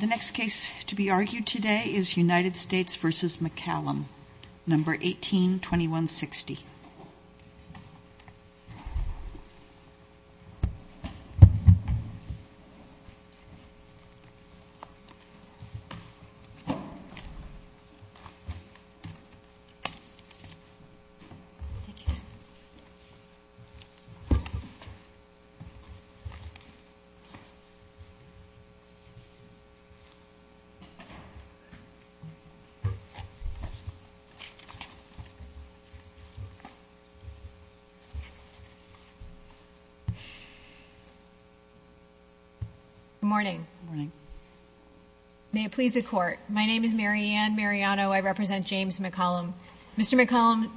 The next case to be argued today is United States v. McCallum, number 182160. Ms. McCallum,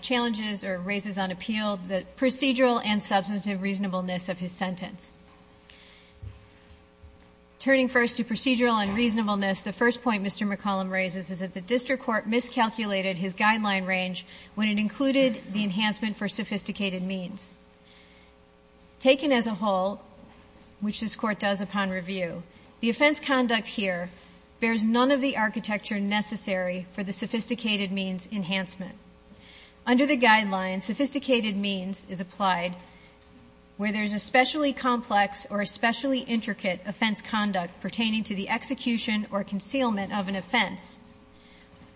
challenges or raises on appeal the procedural and substantive reasonableness of his sentence. Turning first to procedural and reasonableness, the first point Mr. McCallum raises is that the district court miscalculated his guideline range when it included the enhancement for sophisticated means. Taken as a whole, which this court does upon review, the offense conduct here bears none of the architecture necessary for the sophisticated means enhancement. Under the guideline, sophisticated means is applied where there's especially complex or especially intricate offense conduct pertaining to the execution or concealment of an offense,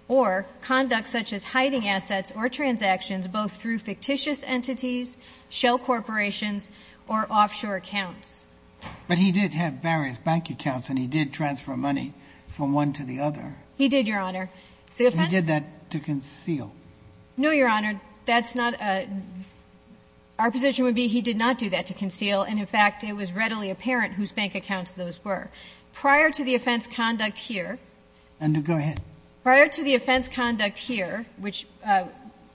or conduct such as hiding assets or transactions both through fictitious entities, shell corporations, or offshore accounts. But he did have various bank accounts, and he did transfer money from one to the other. He did that to conceal. No, Your Honor. That's not a — our position would be he did not do that to conceal, and, in fact, it was readily apparent whose bank accounts those were. Prior to the offense conduct here — And go ahead. Prior to the offense conduct here, which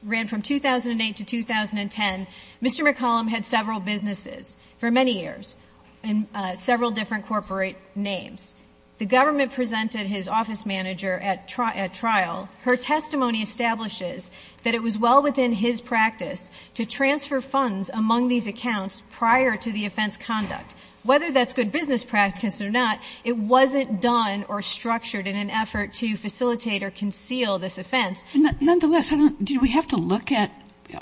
ran from 2008 to 2010, Mr. McCallum had several businesses for many years in several different corporate names. The government presented his office manager at trial. Her testimony establishes that it was well within his practice to transfer funds among these accounts prior to the offense conduct. Whether that's good business practice or not, it wasn't done or structured in an effort to facilitate or conceal this offense. Nonetheless, do we have to look at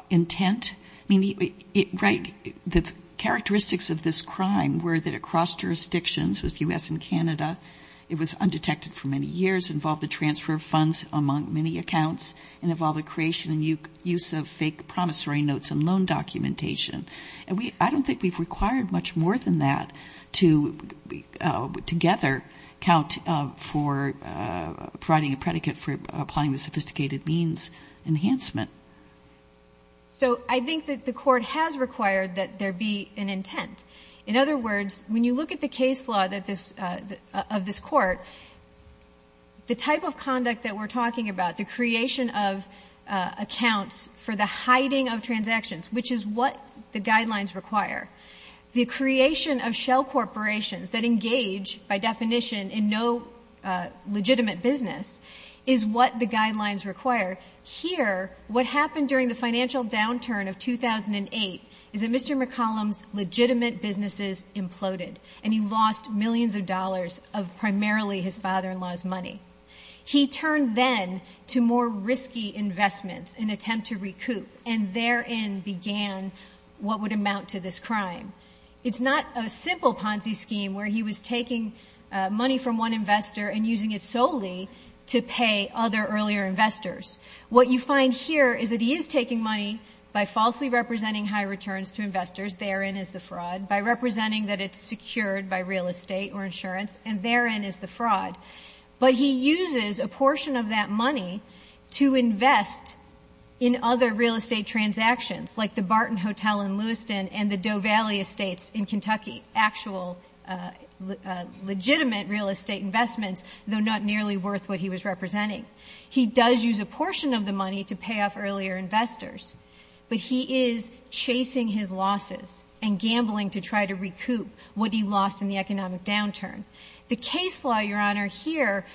intent? I mean, right, the characteristics of this crime were that it crossed jurisdictions, was U.S. and Canada. It was undetected for many years, involved the transfer of funds among many accounts, and involved the creation and use of fake promissory notes and loan documentation. And we — I don't think we've required much more than that to, together, count for providing a predicate for applying the sophisticated means enhancement. So I think that the Court has required that there be an intent. In other words, when you look at the case law of this Court, the type of conduct that we're talking about, the creation of accounts for the hiding of transactions, which is what the guidelines require, the creation of shell corporations that engage, by definition, in no legitimate business, is what the guidelines require. Here, what happened during the financial downturn of 2008 is that Mr. McCollum's legitimate businesses imploded, and he lost millions of dollars of primarily his father-in-law's money. He turned then to more risky investments in an attempt to recoup, and therein began what would amount to this crime. It's not a simple Ponzi scheme where he was taking money from one investor and using it solely to pay other earlier investors. What you find here is that he is taking money by falsely representing high returns to investors, therein is the fraud, by representing that it's secured by real estate or insurance, and therein is the fraud. But he uses a portion of that money to invest in other real estate transactions, like the Barton Hotel in Lewiston and the Doe Valley Estates in Kentucky, actual legitimate real estate investments, though not nearly worth what he was representing. He does use a portion of the money to pay off earlier investors, but he is chasing his losses and gambling to try to recoup what he lost in the economic downturn. The case law, Your Honor, here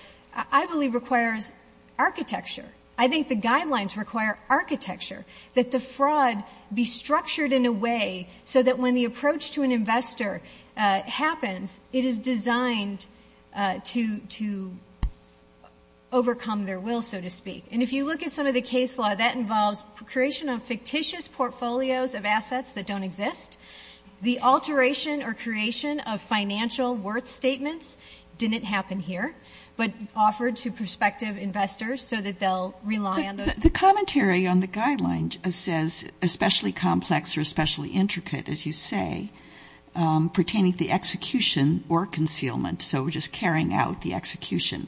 I believe requires architecture. I think the guidelines require architecture, that the fraud be structured in a way so that when the approach to an investor happens, it is designed to overcome their will, so to speak. And if you look at some of the case law, that involves creation of fictitious portfolios of assets that don't exist. The alteration or creation of financial worth statements didn't happen here, but offered to prospective investors so that they'll rely on those. The commentary on the guidelines says especially complex or especially intricate, as you say, pertaining to the execution or concealment. So we're just carrying out the execution.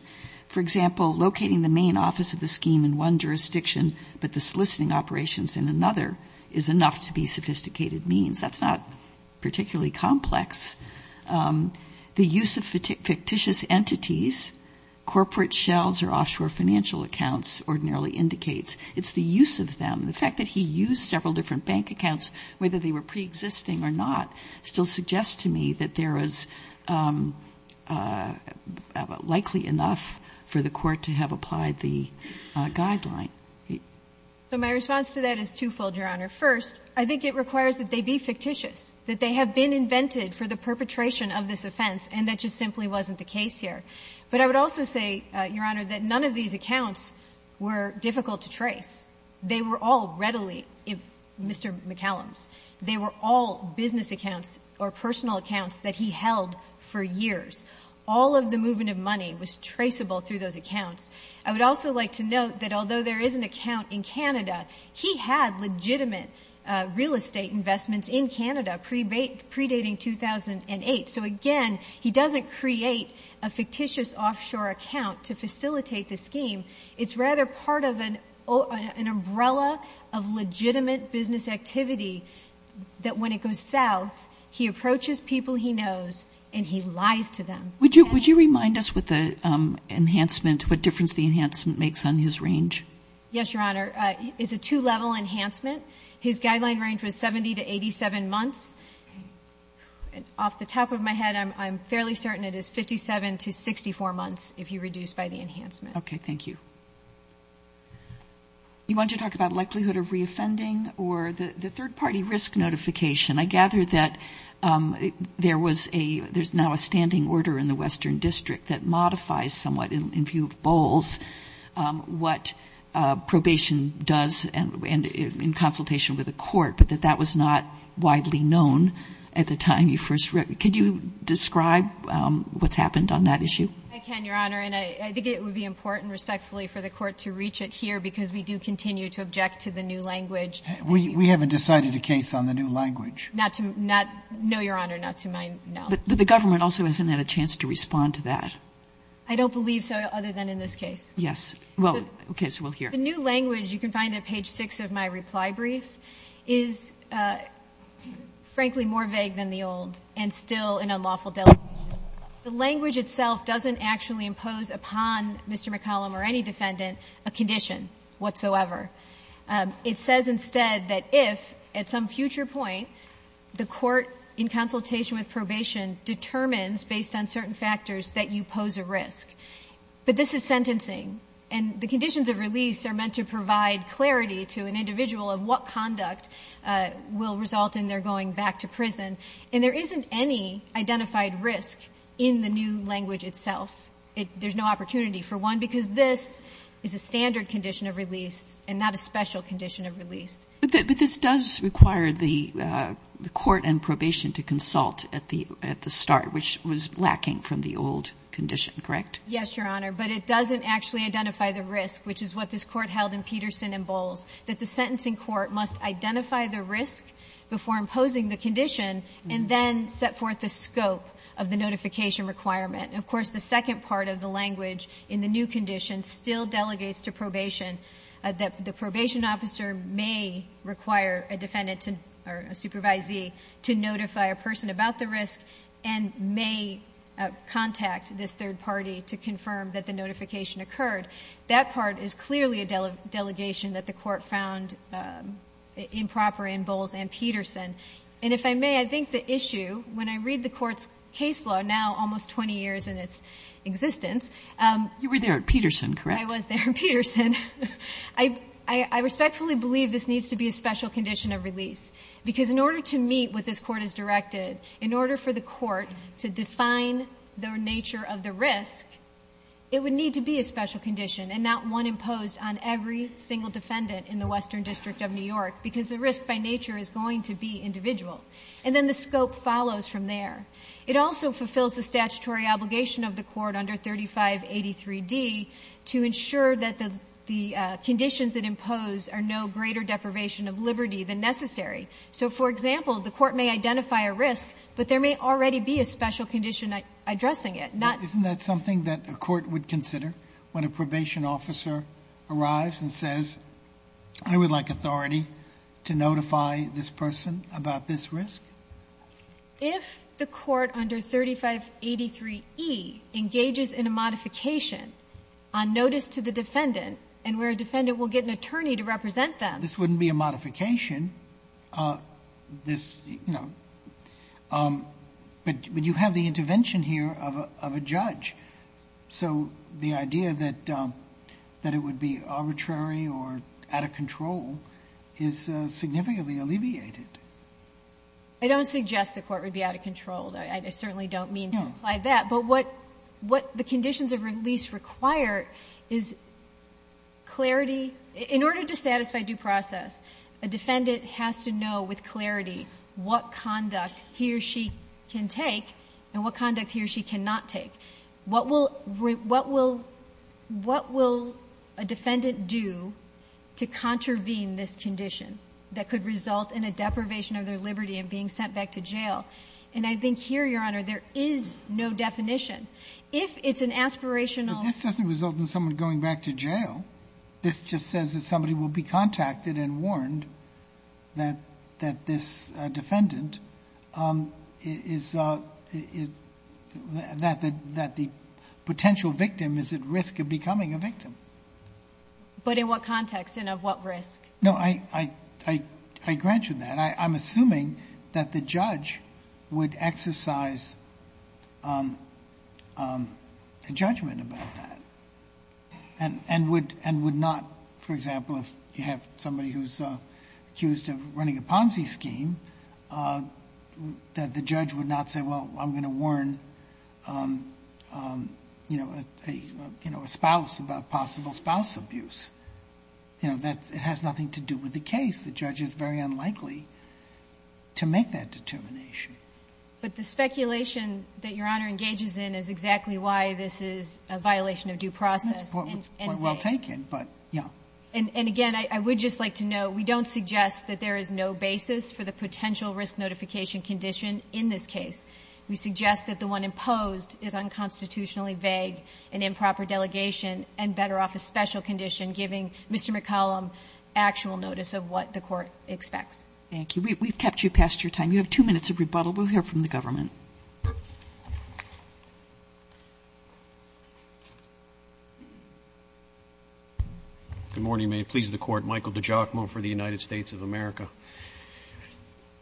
For example, locating the main office of the scheme in one jurisdiction but the soliciting operations in another is enough to be sophisticated means. That's not particularly complex. The use of fictitious entities, corporate shells or offshore financial accounts ordinarily indicates. It's the use of them. The fact that he used several different bank accounts, whether they were preexisting or not, still suggests to me that there is likely enough for the Court to have applied the guideline. First, I think it requires that they be fictitious, that they have been invented for the perpetration of this offense, and that just simply wasn't the case here. But I would also say, Your Honor, that none of these accounts were difficult to trace. They were all readily Mr. McCallum's. They were all business accounts or personal accounts that he held for years. All of the movement of money was traceable through those accounts. I would also like to note that although there is an account in Canada, he had legitimate real estate investments in Canada predating 2008. So, again, he doesn't create a fictitious offshore account to facilitate the scheme. It's rather part of an umbrella of legitimate business activity that when it goes south, he approaches people he knows and he lies to them. Would you remind us with the enhancement, what difference the enhancement makes on his range? Yes, Your Honor. It's a two-level enhancement. His guideline range was 70 to 87 months. Off the top of my head, I'm fairly certain it is 57 to 64 months if you reduce by the enhancement. Okay. Thank you. You want to talk about likelihood of reoffending or the third-party risk notification? I gather that there was a — there's now a standing order in the Western District that modifies somewhat in view of Bowles what probation does and in consultation with the court, but that that was not widely known at the time you first wrote. Could you describe what's happened on that issue? I can, Your Honor. And I think it would be important, respectfully, for the court to reach it here because we do continue to object to the new language. We haven't decided a case on the new language. Not to — no, Your Honor, not to my knowledge. But the government also hasn't had a chance to respond to that. I don't believe so other than in this case. Yes. Well, okay, so we'll hear. The new language you can find at page 6 of my reply brief is, frankly, more vague than the old and still an unlawful delegation. The language itself doesn't actually impose upon Mr. McCollum or any defendant a condition whatsoever. It says instead that if at some future point the court in consultation with probation determines based on certain factors that you pose a risk, but this is sentencing and the conditions of release are meant to provide clarity to an individual of what conduct will result in their going back to prison, and there isn't any identified risk in the new language itself. There's no opportunity for one because this is a standard condition of release and not a special condition of release. But this does require the court and probation to consult at the start, which was lacking from the old condition, correct? Yes, Your Honor. But it doesn't actually identify the risk, which is what this Court held in Peterson and Bowles, that the sentencing court must identify the risk before imposing the condition and then set forth the scope of the notification requirement. Of course, the second part of the language in the new condition still delegates to probation that the probation officer may require a defendant or a supervisee to notify a person about the risk and may contact this third party to confirm that the notification occurred. That part is clearly a delegation that the court found improper in Bowles and Peterson. And if I may, I think the issue, when I read the Court's case law now, almost 20 years in its existence. You were there at Peterson, correct? I was there at Peterson. I respectfully believe this needs to be a special condition of release because in order to meet what this Court has directed, in order for the court to define the nature of the risk, it would need to be a special condition and not one imposed on every single defendant in the Western District of New York because the risk by And then the scope follows from there. It also fulfills the statutory obligation of the court under 3583D to ensure that the conditions it imposed are no greater deprivation of liberty than necessary. So, for example, the court may identify a risk, but there may already be a special condition addressing it. Isn't that something that a court would consider when a probation officer arrives and says, I would like authority to notify this person about this risk? If the court under 3583E engages in a modification on notice to the defendant and where a defendant will get an attorney to represent them... This wouldn't be a modification, but you have the intervention here of a judge. So the idea that it would be arbitrary or out of control is significantly alleviated. I don't suggest the court would be out of control. I certainly don't mean to imply that. But what the conditions of release require is clarity. In order to satisfy due process, a defendant has to know with clarity what conduct he or she can take and what conduct he or she cannot take. What will a defendant do to contravene this condition that could result in a deprivation of their liberty and being sent back to jail? And I think here, Your Honor, there is no definition. If it's an aspirational... This just says that somebody will be contacted and warned that this defendant... that the potential victim is at risk of becoming a victim. But in what context and of what risk? No, I grant you that. I'm assuming that the judge would exercise a judgment about that and would not, for example, if you have somebody who's accused of running a Ponzi scheme, that the judge would not say, well, I'm going to warn a spouse about possible spouse abuse. It has nothing to do with the case. The judge is very unlikely to make that determination. But the speculation that Your Honor engages in is exactly why this is a violation of due process. That's a point well taken, but, yeah. And again, I would just like to note, we don't suggest that there is no basis for the potential risk notification condition in this case. We suggest that the one imposed is unconstitutionally vague, an improper delegation, and better off a special condition, giving Mr. McCollum actual notice of what the court expects. Thank you. We've kept you past your time. We have two minutes of rebuttal. We'll hear from the government. Good morning. May it please the Court. Michael DiGiacomo for the United States of America.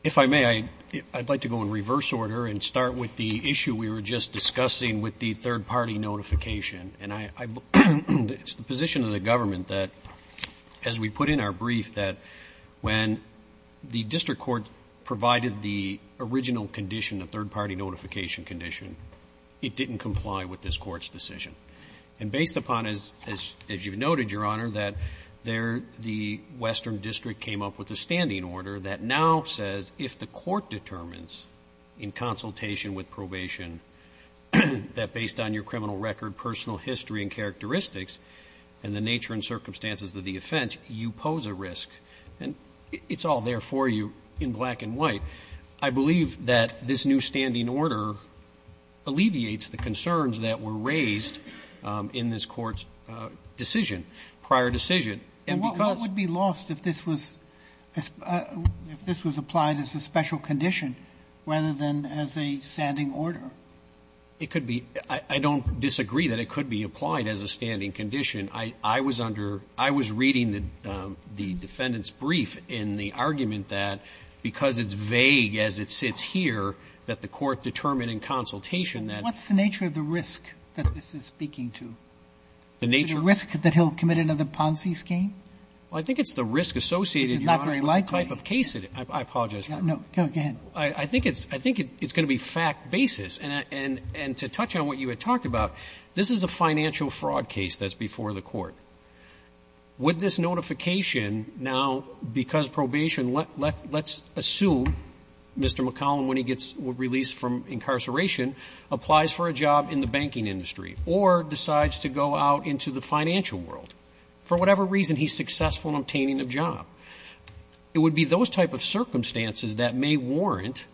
If I may, I'd like to go in reverse order and start with the issue we were just discussing with the third-party notification. And it's the position of the government that, as we put in our brief, that when the district court provided the original condition, the third-party notification condition, it didn't comply with this Court's decision. And based upon, as you've noted, Your Honor, that there the western district came up with a standing order that now says if the court determines in consultation with probation that based on your criminal record, personal history and characteristics and the nature and circumstances of the offense, you pose a risk. And it's all there for you in black and white. I believe that this new standing order alleviates the concerns that were raised in this Court's decision, prior decision. And because ---- And what would be lost if this was applied as a special condition rather than as a standing order? It could be. I don't disagree that it could be applied as a standing condition. I was under ---- I was reading the defendant's brief in the argument that because it's vague as it sits here, that the court determined in consultation that ---- What's the nature of the risk that this is speaking to? The nature? The risk that he'll commit another Ponzi scheme? Well, I think it's the risk associated, Your Honor. Which is not very likely. The type of case it is. I apologize, Your Honor. No, go ahead. I think it's going to be fact basis. And to touch on what you had talked about, this is a financial fraud case that's before the Court. Would this notification now, because probation, let's assume Mr. McCollum, when he gets released from incarceration, applies for a job in the banking industry or decides to go out into the financial world? For whatever reason, he's successful in obtaining a job. It would be those type of circumstances that may warrant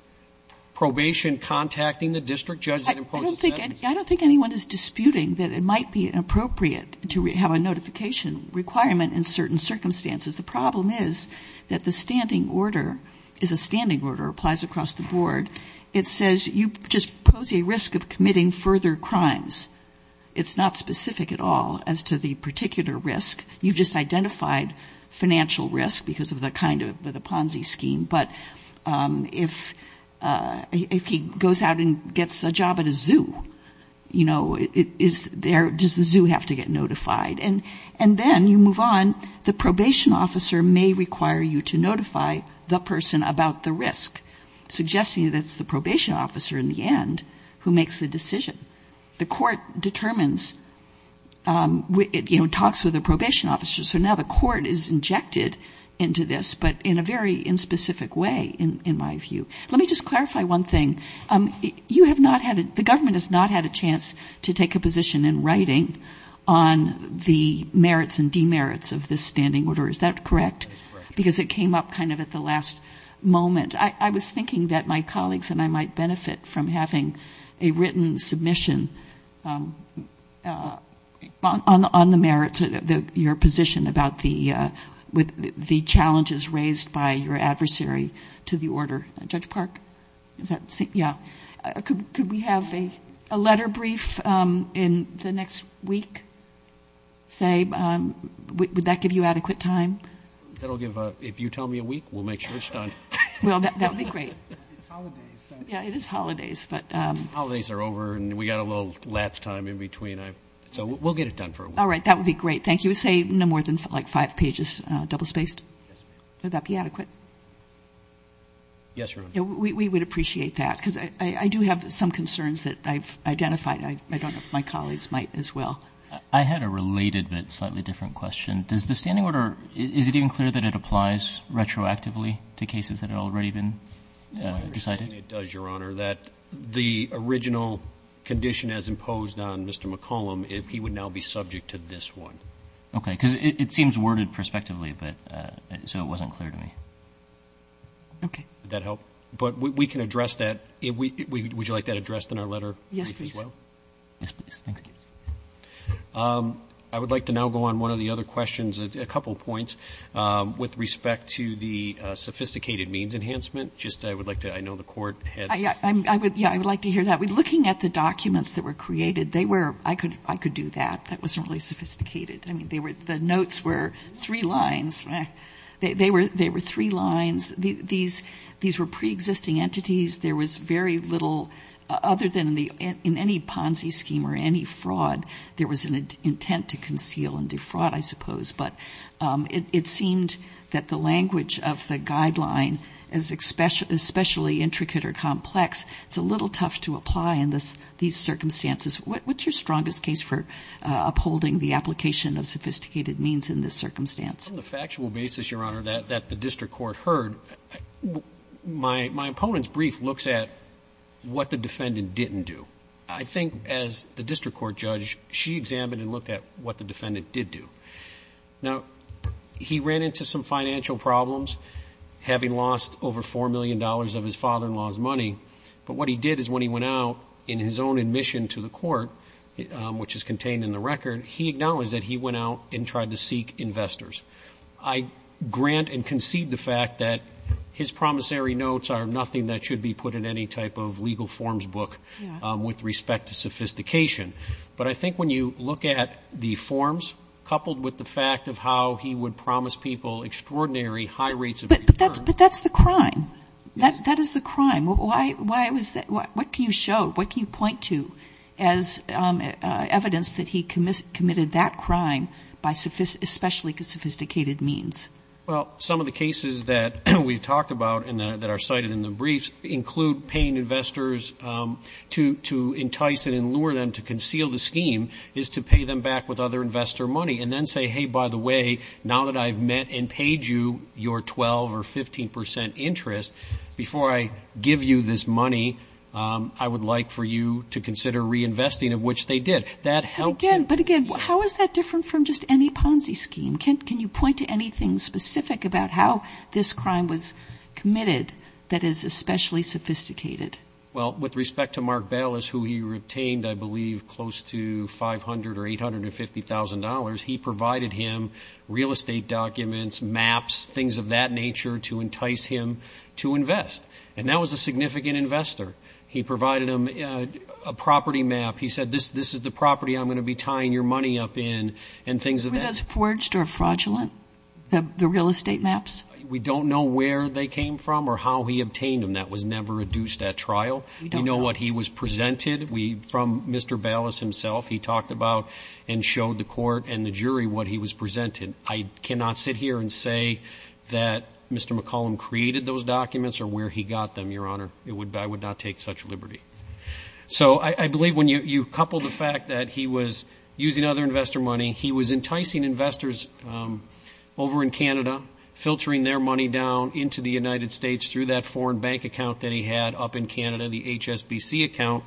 probation contacting the district judge that imposed the sentence? I don't think anyone is disputing that it might be inappropriate to have a notification requirement in certain circumstances. The problem is that the standing order is a standing order, applies across the board. It says you just pose a risk of committing further crimes. It's not specific at all as to the particular risk. You've just identified financial risk because of the Ponzi scheme. But if he goes out and gets a job at a zoo, does the zoo have to get notified? And then you move on. The probation officer may require you to notify the person about the risk, suggesting that it's the probation officer in the end who makes the decision. The court determines, you know, talks with the probation officer. So now the court is injected into this, but in a very inspecific way, in my view. Let me just clarify one thing. You have not had a, the government has not had a chance to take a position in writing on the merits and demerits of this standing order. Is that correct? That is correct. Because it came up kind of at the last moment. I was thinking that my colleagues and I might benefit from having a written submission on the merits, your position about the challenges raised by your adversary to the order. Judge Park? Yeah. Could we have a letter brief in the next week, say? Would that give you adequate time? That will give, if you tell me a week, we'll make sure it's done. Well, that would be great. It's holidays. Yeah, it is holidays. Holidays are over and we've got a little lapse time in between. So we'll get it done for a week. All right. That would be great. Thank you. Say no more than like five pages, double spaced? Yes, ma'am. Would that be adequate? Yes, Your Honor. We would appreciate that. Because I do have some concerns that I've identified. I don't know if my colleagues might as well. I had a related but slightly different question. Does the standing order, is it even clear that it applies retroactively to cases that have already been decided? My understanding it does, Your Honor, that the original condition as imposed on Mr. McCollum, he would now be subject to this one. Okay. Because it seems worded prospectively, but so it wasn't clear to me. Okay. Would that help? But we can address that. Would you like that addressed in our letter brief as well? Yes, please. Yes, please. Thank you. I would like to now go on one of the other questions, a couple points, with respect to the sophisticated means enhancement. Just I would like to, I know the Court had. Yeah, I would like to hear that. Looking at the documents that were created, they were, I could do that. That wasn't really sophisticated. I mean, they were, the notes were three lines. They were three lines. These were preexisting entities. There was very little, other than in any Ponzi scheme or any fraud, there was an intent to conceal and defraud, I suppose. But it seemed that the language of the guideline, especially intricate or complex, it's a little tough to apply in these circumstances. What's your strongest case for upholding the application of sophisticated means in this circumstance? On the factual basis, Your Honor, that the district court heard, my opponent's brief looks at what the defendant didn't do. I think as the district court judge, she examined and looked at what the defendant did do. Now, he ran into some financial problems, having lost over $4 million of his father-in-law's money. But what he did is when he went out in his own admission to the court, which is contained in the record, he acknowledged that he went out and tried to seek investors. I grant and concede the fact that his promissory notes are nothing that should be put in any type of legal forms book with respect to sophistication. But I think when you look at the forms, coupled with the fact of how he would promise people extraordinary high rates of return. But that's the crime. That is the crime. Why was that? What can you show? What can you point to as evidence that he committed that crime, by especially sophisticated means? Well, some of the cases that we've talked about, and that are cited in the briefs, include paying investors to entice and lure them to conceal the scheme, is to pay them back with other investor money. And then say, hey, by the way, now that I've met and paid you your 12 or 15 percent interest, before I give you this money, I would like for you to consider reinvesting, of which they did. But again, how is that different from just any Ponzi scheme? Can you point to anything specific about how this crime was committed that is especially sophisticated? Well, with respect to Mark Bayless, who he retained, I believe, close to $500,000 or $850,000, he provided him real estate documents, maps, things of that nature, to entice him to invest. And that was a significant investor. He provided him a property map. He said, this is the property I'm going to be tying your money up in, and things of that nature. Were those forged or fraudulent, the real estate maps? We don't know where they came from or how he obtained them. That was never adduced at trial. We know what he was presented from Mr. Bayless himself. He talked about and showed the court and the jury what he was presented. I cannot sit here and say that Mr. McCollum created those documents or where he got them, Your Honor. I would not take such liberty. So I believe when you couple the fact that he was using other investor money, he was enticing investors over in Canada, filtering their money down into the United States through that foreign bank account that he had up in Canada, the HSBC account.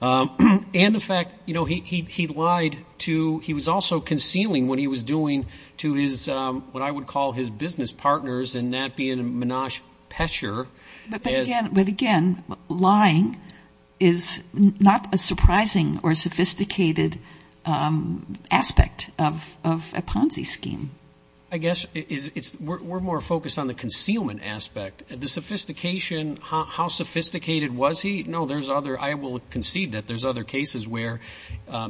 And the fact, you know, he lied to he was also concealing what he was doing to his, what I would call his business partners, and that being Menash Pesher. But, again, lying is not a surprising or sophisticated aspect of a Ponzi scheme. I guess we're more focused on the concealment aspect. The sophistication, how sophisticated was he? No, there's other, I will concede that there's other cases where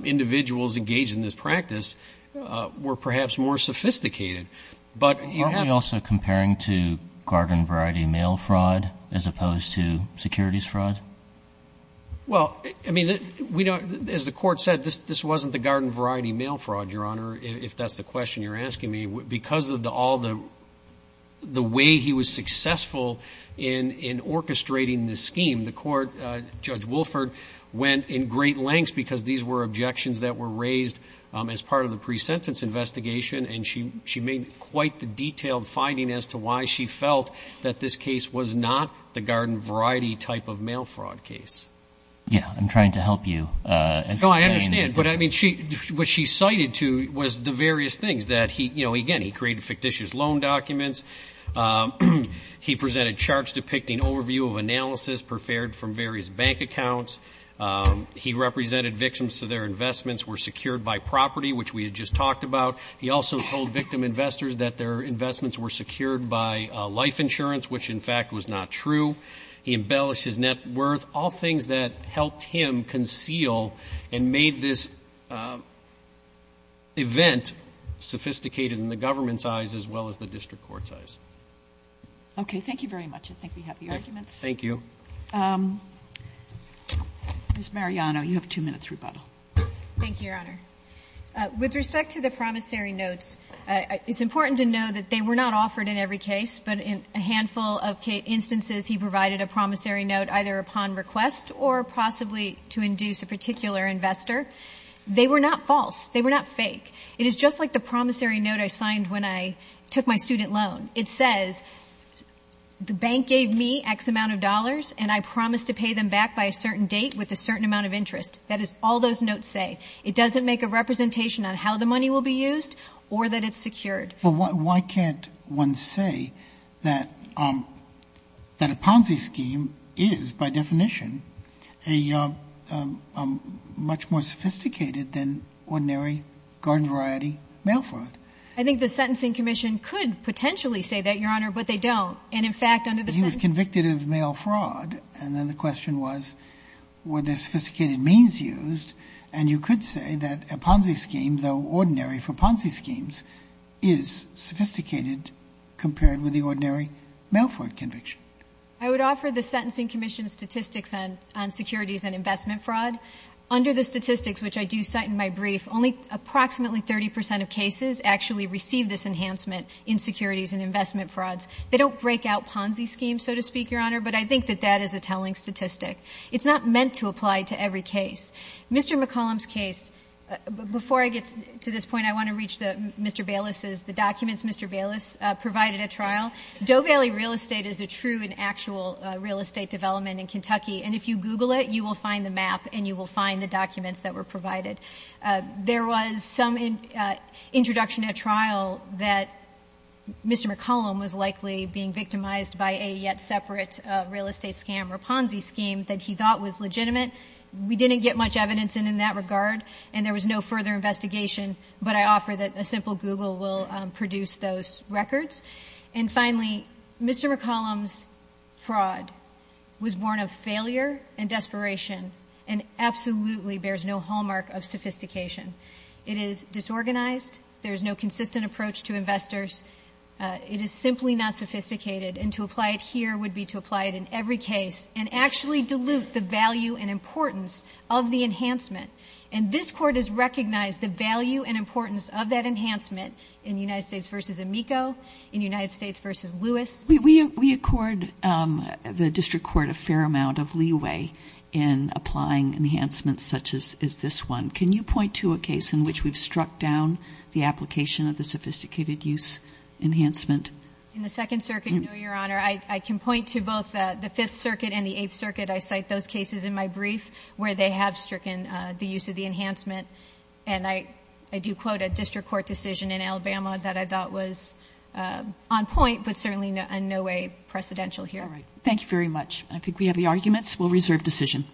individuals engaged in this practice were perhaps more sophisticated. Aren't we also comparing to garden variety mail fraud as opposed to securities fraud? Well, I mean, as the Court said, this wasn't the garden variety mail fraud, Your Honor, if that's the question you're asking me. Because of all the way he was successful in orchestrating this scheme, the Court, Judge Wolford, went in great lengths because these were objections that were raised as part of the pre-sentence investigation, and she made quite the detailed finding as to why she felt that this case was not the garden variety type of mail fraud case. Yeah, I'm trying to help you. No, I understand. But, I mean, what she cited to was the various things that he, you know, again, he created fictitious loan documents. He presented charts depicting overview of analysis prepared from various bank accounts. He represented victims so their investments were secured by property, which we had just talked about. He also told victim investors that their investments were secured by life insurance, which, in fact, was not true. He embellished his net worth, all things that helped him conceal and made this event sophisticated in the government's eyes as well as the district court's eyes. Okay, thank you very much. I think we have the arguments. Thank you. Ms. Mariano, you have two minutes rebuttal. Thank you, Your Honor. With respect to the promissory notes, it's important to know that they were not offered in every case, but in a handful of instances he provided a promissory note either upon request or possibly to induce a particular investor. They were not false. They were not fake. It is just like the promissory note I signed when I took my student loan. It says the bank gave me X amount of dollars, and I promised to pay them back by a certain date with a certain amount of interest. That is all those notes say. It doesn't make a representation on how the money will be used or that it's secured. But why can't one say that a Ponzi scheme is, by definition, a much more sophisticated than ordinary garden variety mail fraud? I think the Sentencing Commission could potentially say that, Your Honor, but they don't. And, in fact, under the Sentencing Commission ---- He was convicted of mail fraud, and then the question was were there sophisticated means used, and you could say that a Ponzi scheme, though ordinary for Ponzi schemes, is sophisticated compared with the ordinary mail fraud conviction. I would offer the Sentencing Commission statistics on securities and investment fraud. Under the statistics, which I do cite in my brief, only approximately 30 percent of cases actually receive this enhancement in securities and investment frauds. They don't break out Ponzi schemes, so to speak, Your Honor, but I think that that is a telling statistic. It's not meant to apply to every case. Mr. McCollum's case, before I get to this point, I want to reach Mr. Bayless's, the documents Mr. Bayless provided at trial. Doe Valley Real Estate is a true and actual real estate development in Kentucky, and if you Google it, you will find the map and you will find the documents that were provided. There was some introduction at trial that Mr. McCollum was likely being victimized by a yet separate real estate scam or Ponzi scheme that he thought was legitimate. We didn't get much evidence in that regard, and there was no further investigation, but I offer that a simple Google will produce those records. And finally, Mr. McCollum's fraud was born of failure and desperation and absolutely bears no hallmark of sophistication. It is disorganized. There is no consistent approach to investors. It is simply not sophisticated. And to apply it here would be to apply it in every case and actually dilute the value and importance of the enhancement. And this Court has recognized the value and importance of that enhancement in United States v. Amico, in United States v. Lewis. We accord the district court a fair amount of leeway in applying enhancements such as this one. Can you point to a case in which we've struck down the application of the sophisticated use enhancement? In the Second Circuit? No, Your Honor. I can point to both the Fifth Circuit and the Eighth Circuit. I cite those cases in my brief where they have stricken the use of the enhancement. And I do quote a district court decision in Alabama that I thought was on point but certainly in no way precedential here. All right. Thank you very much. I think we have the arguments. We'll reserve decision.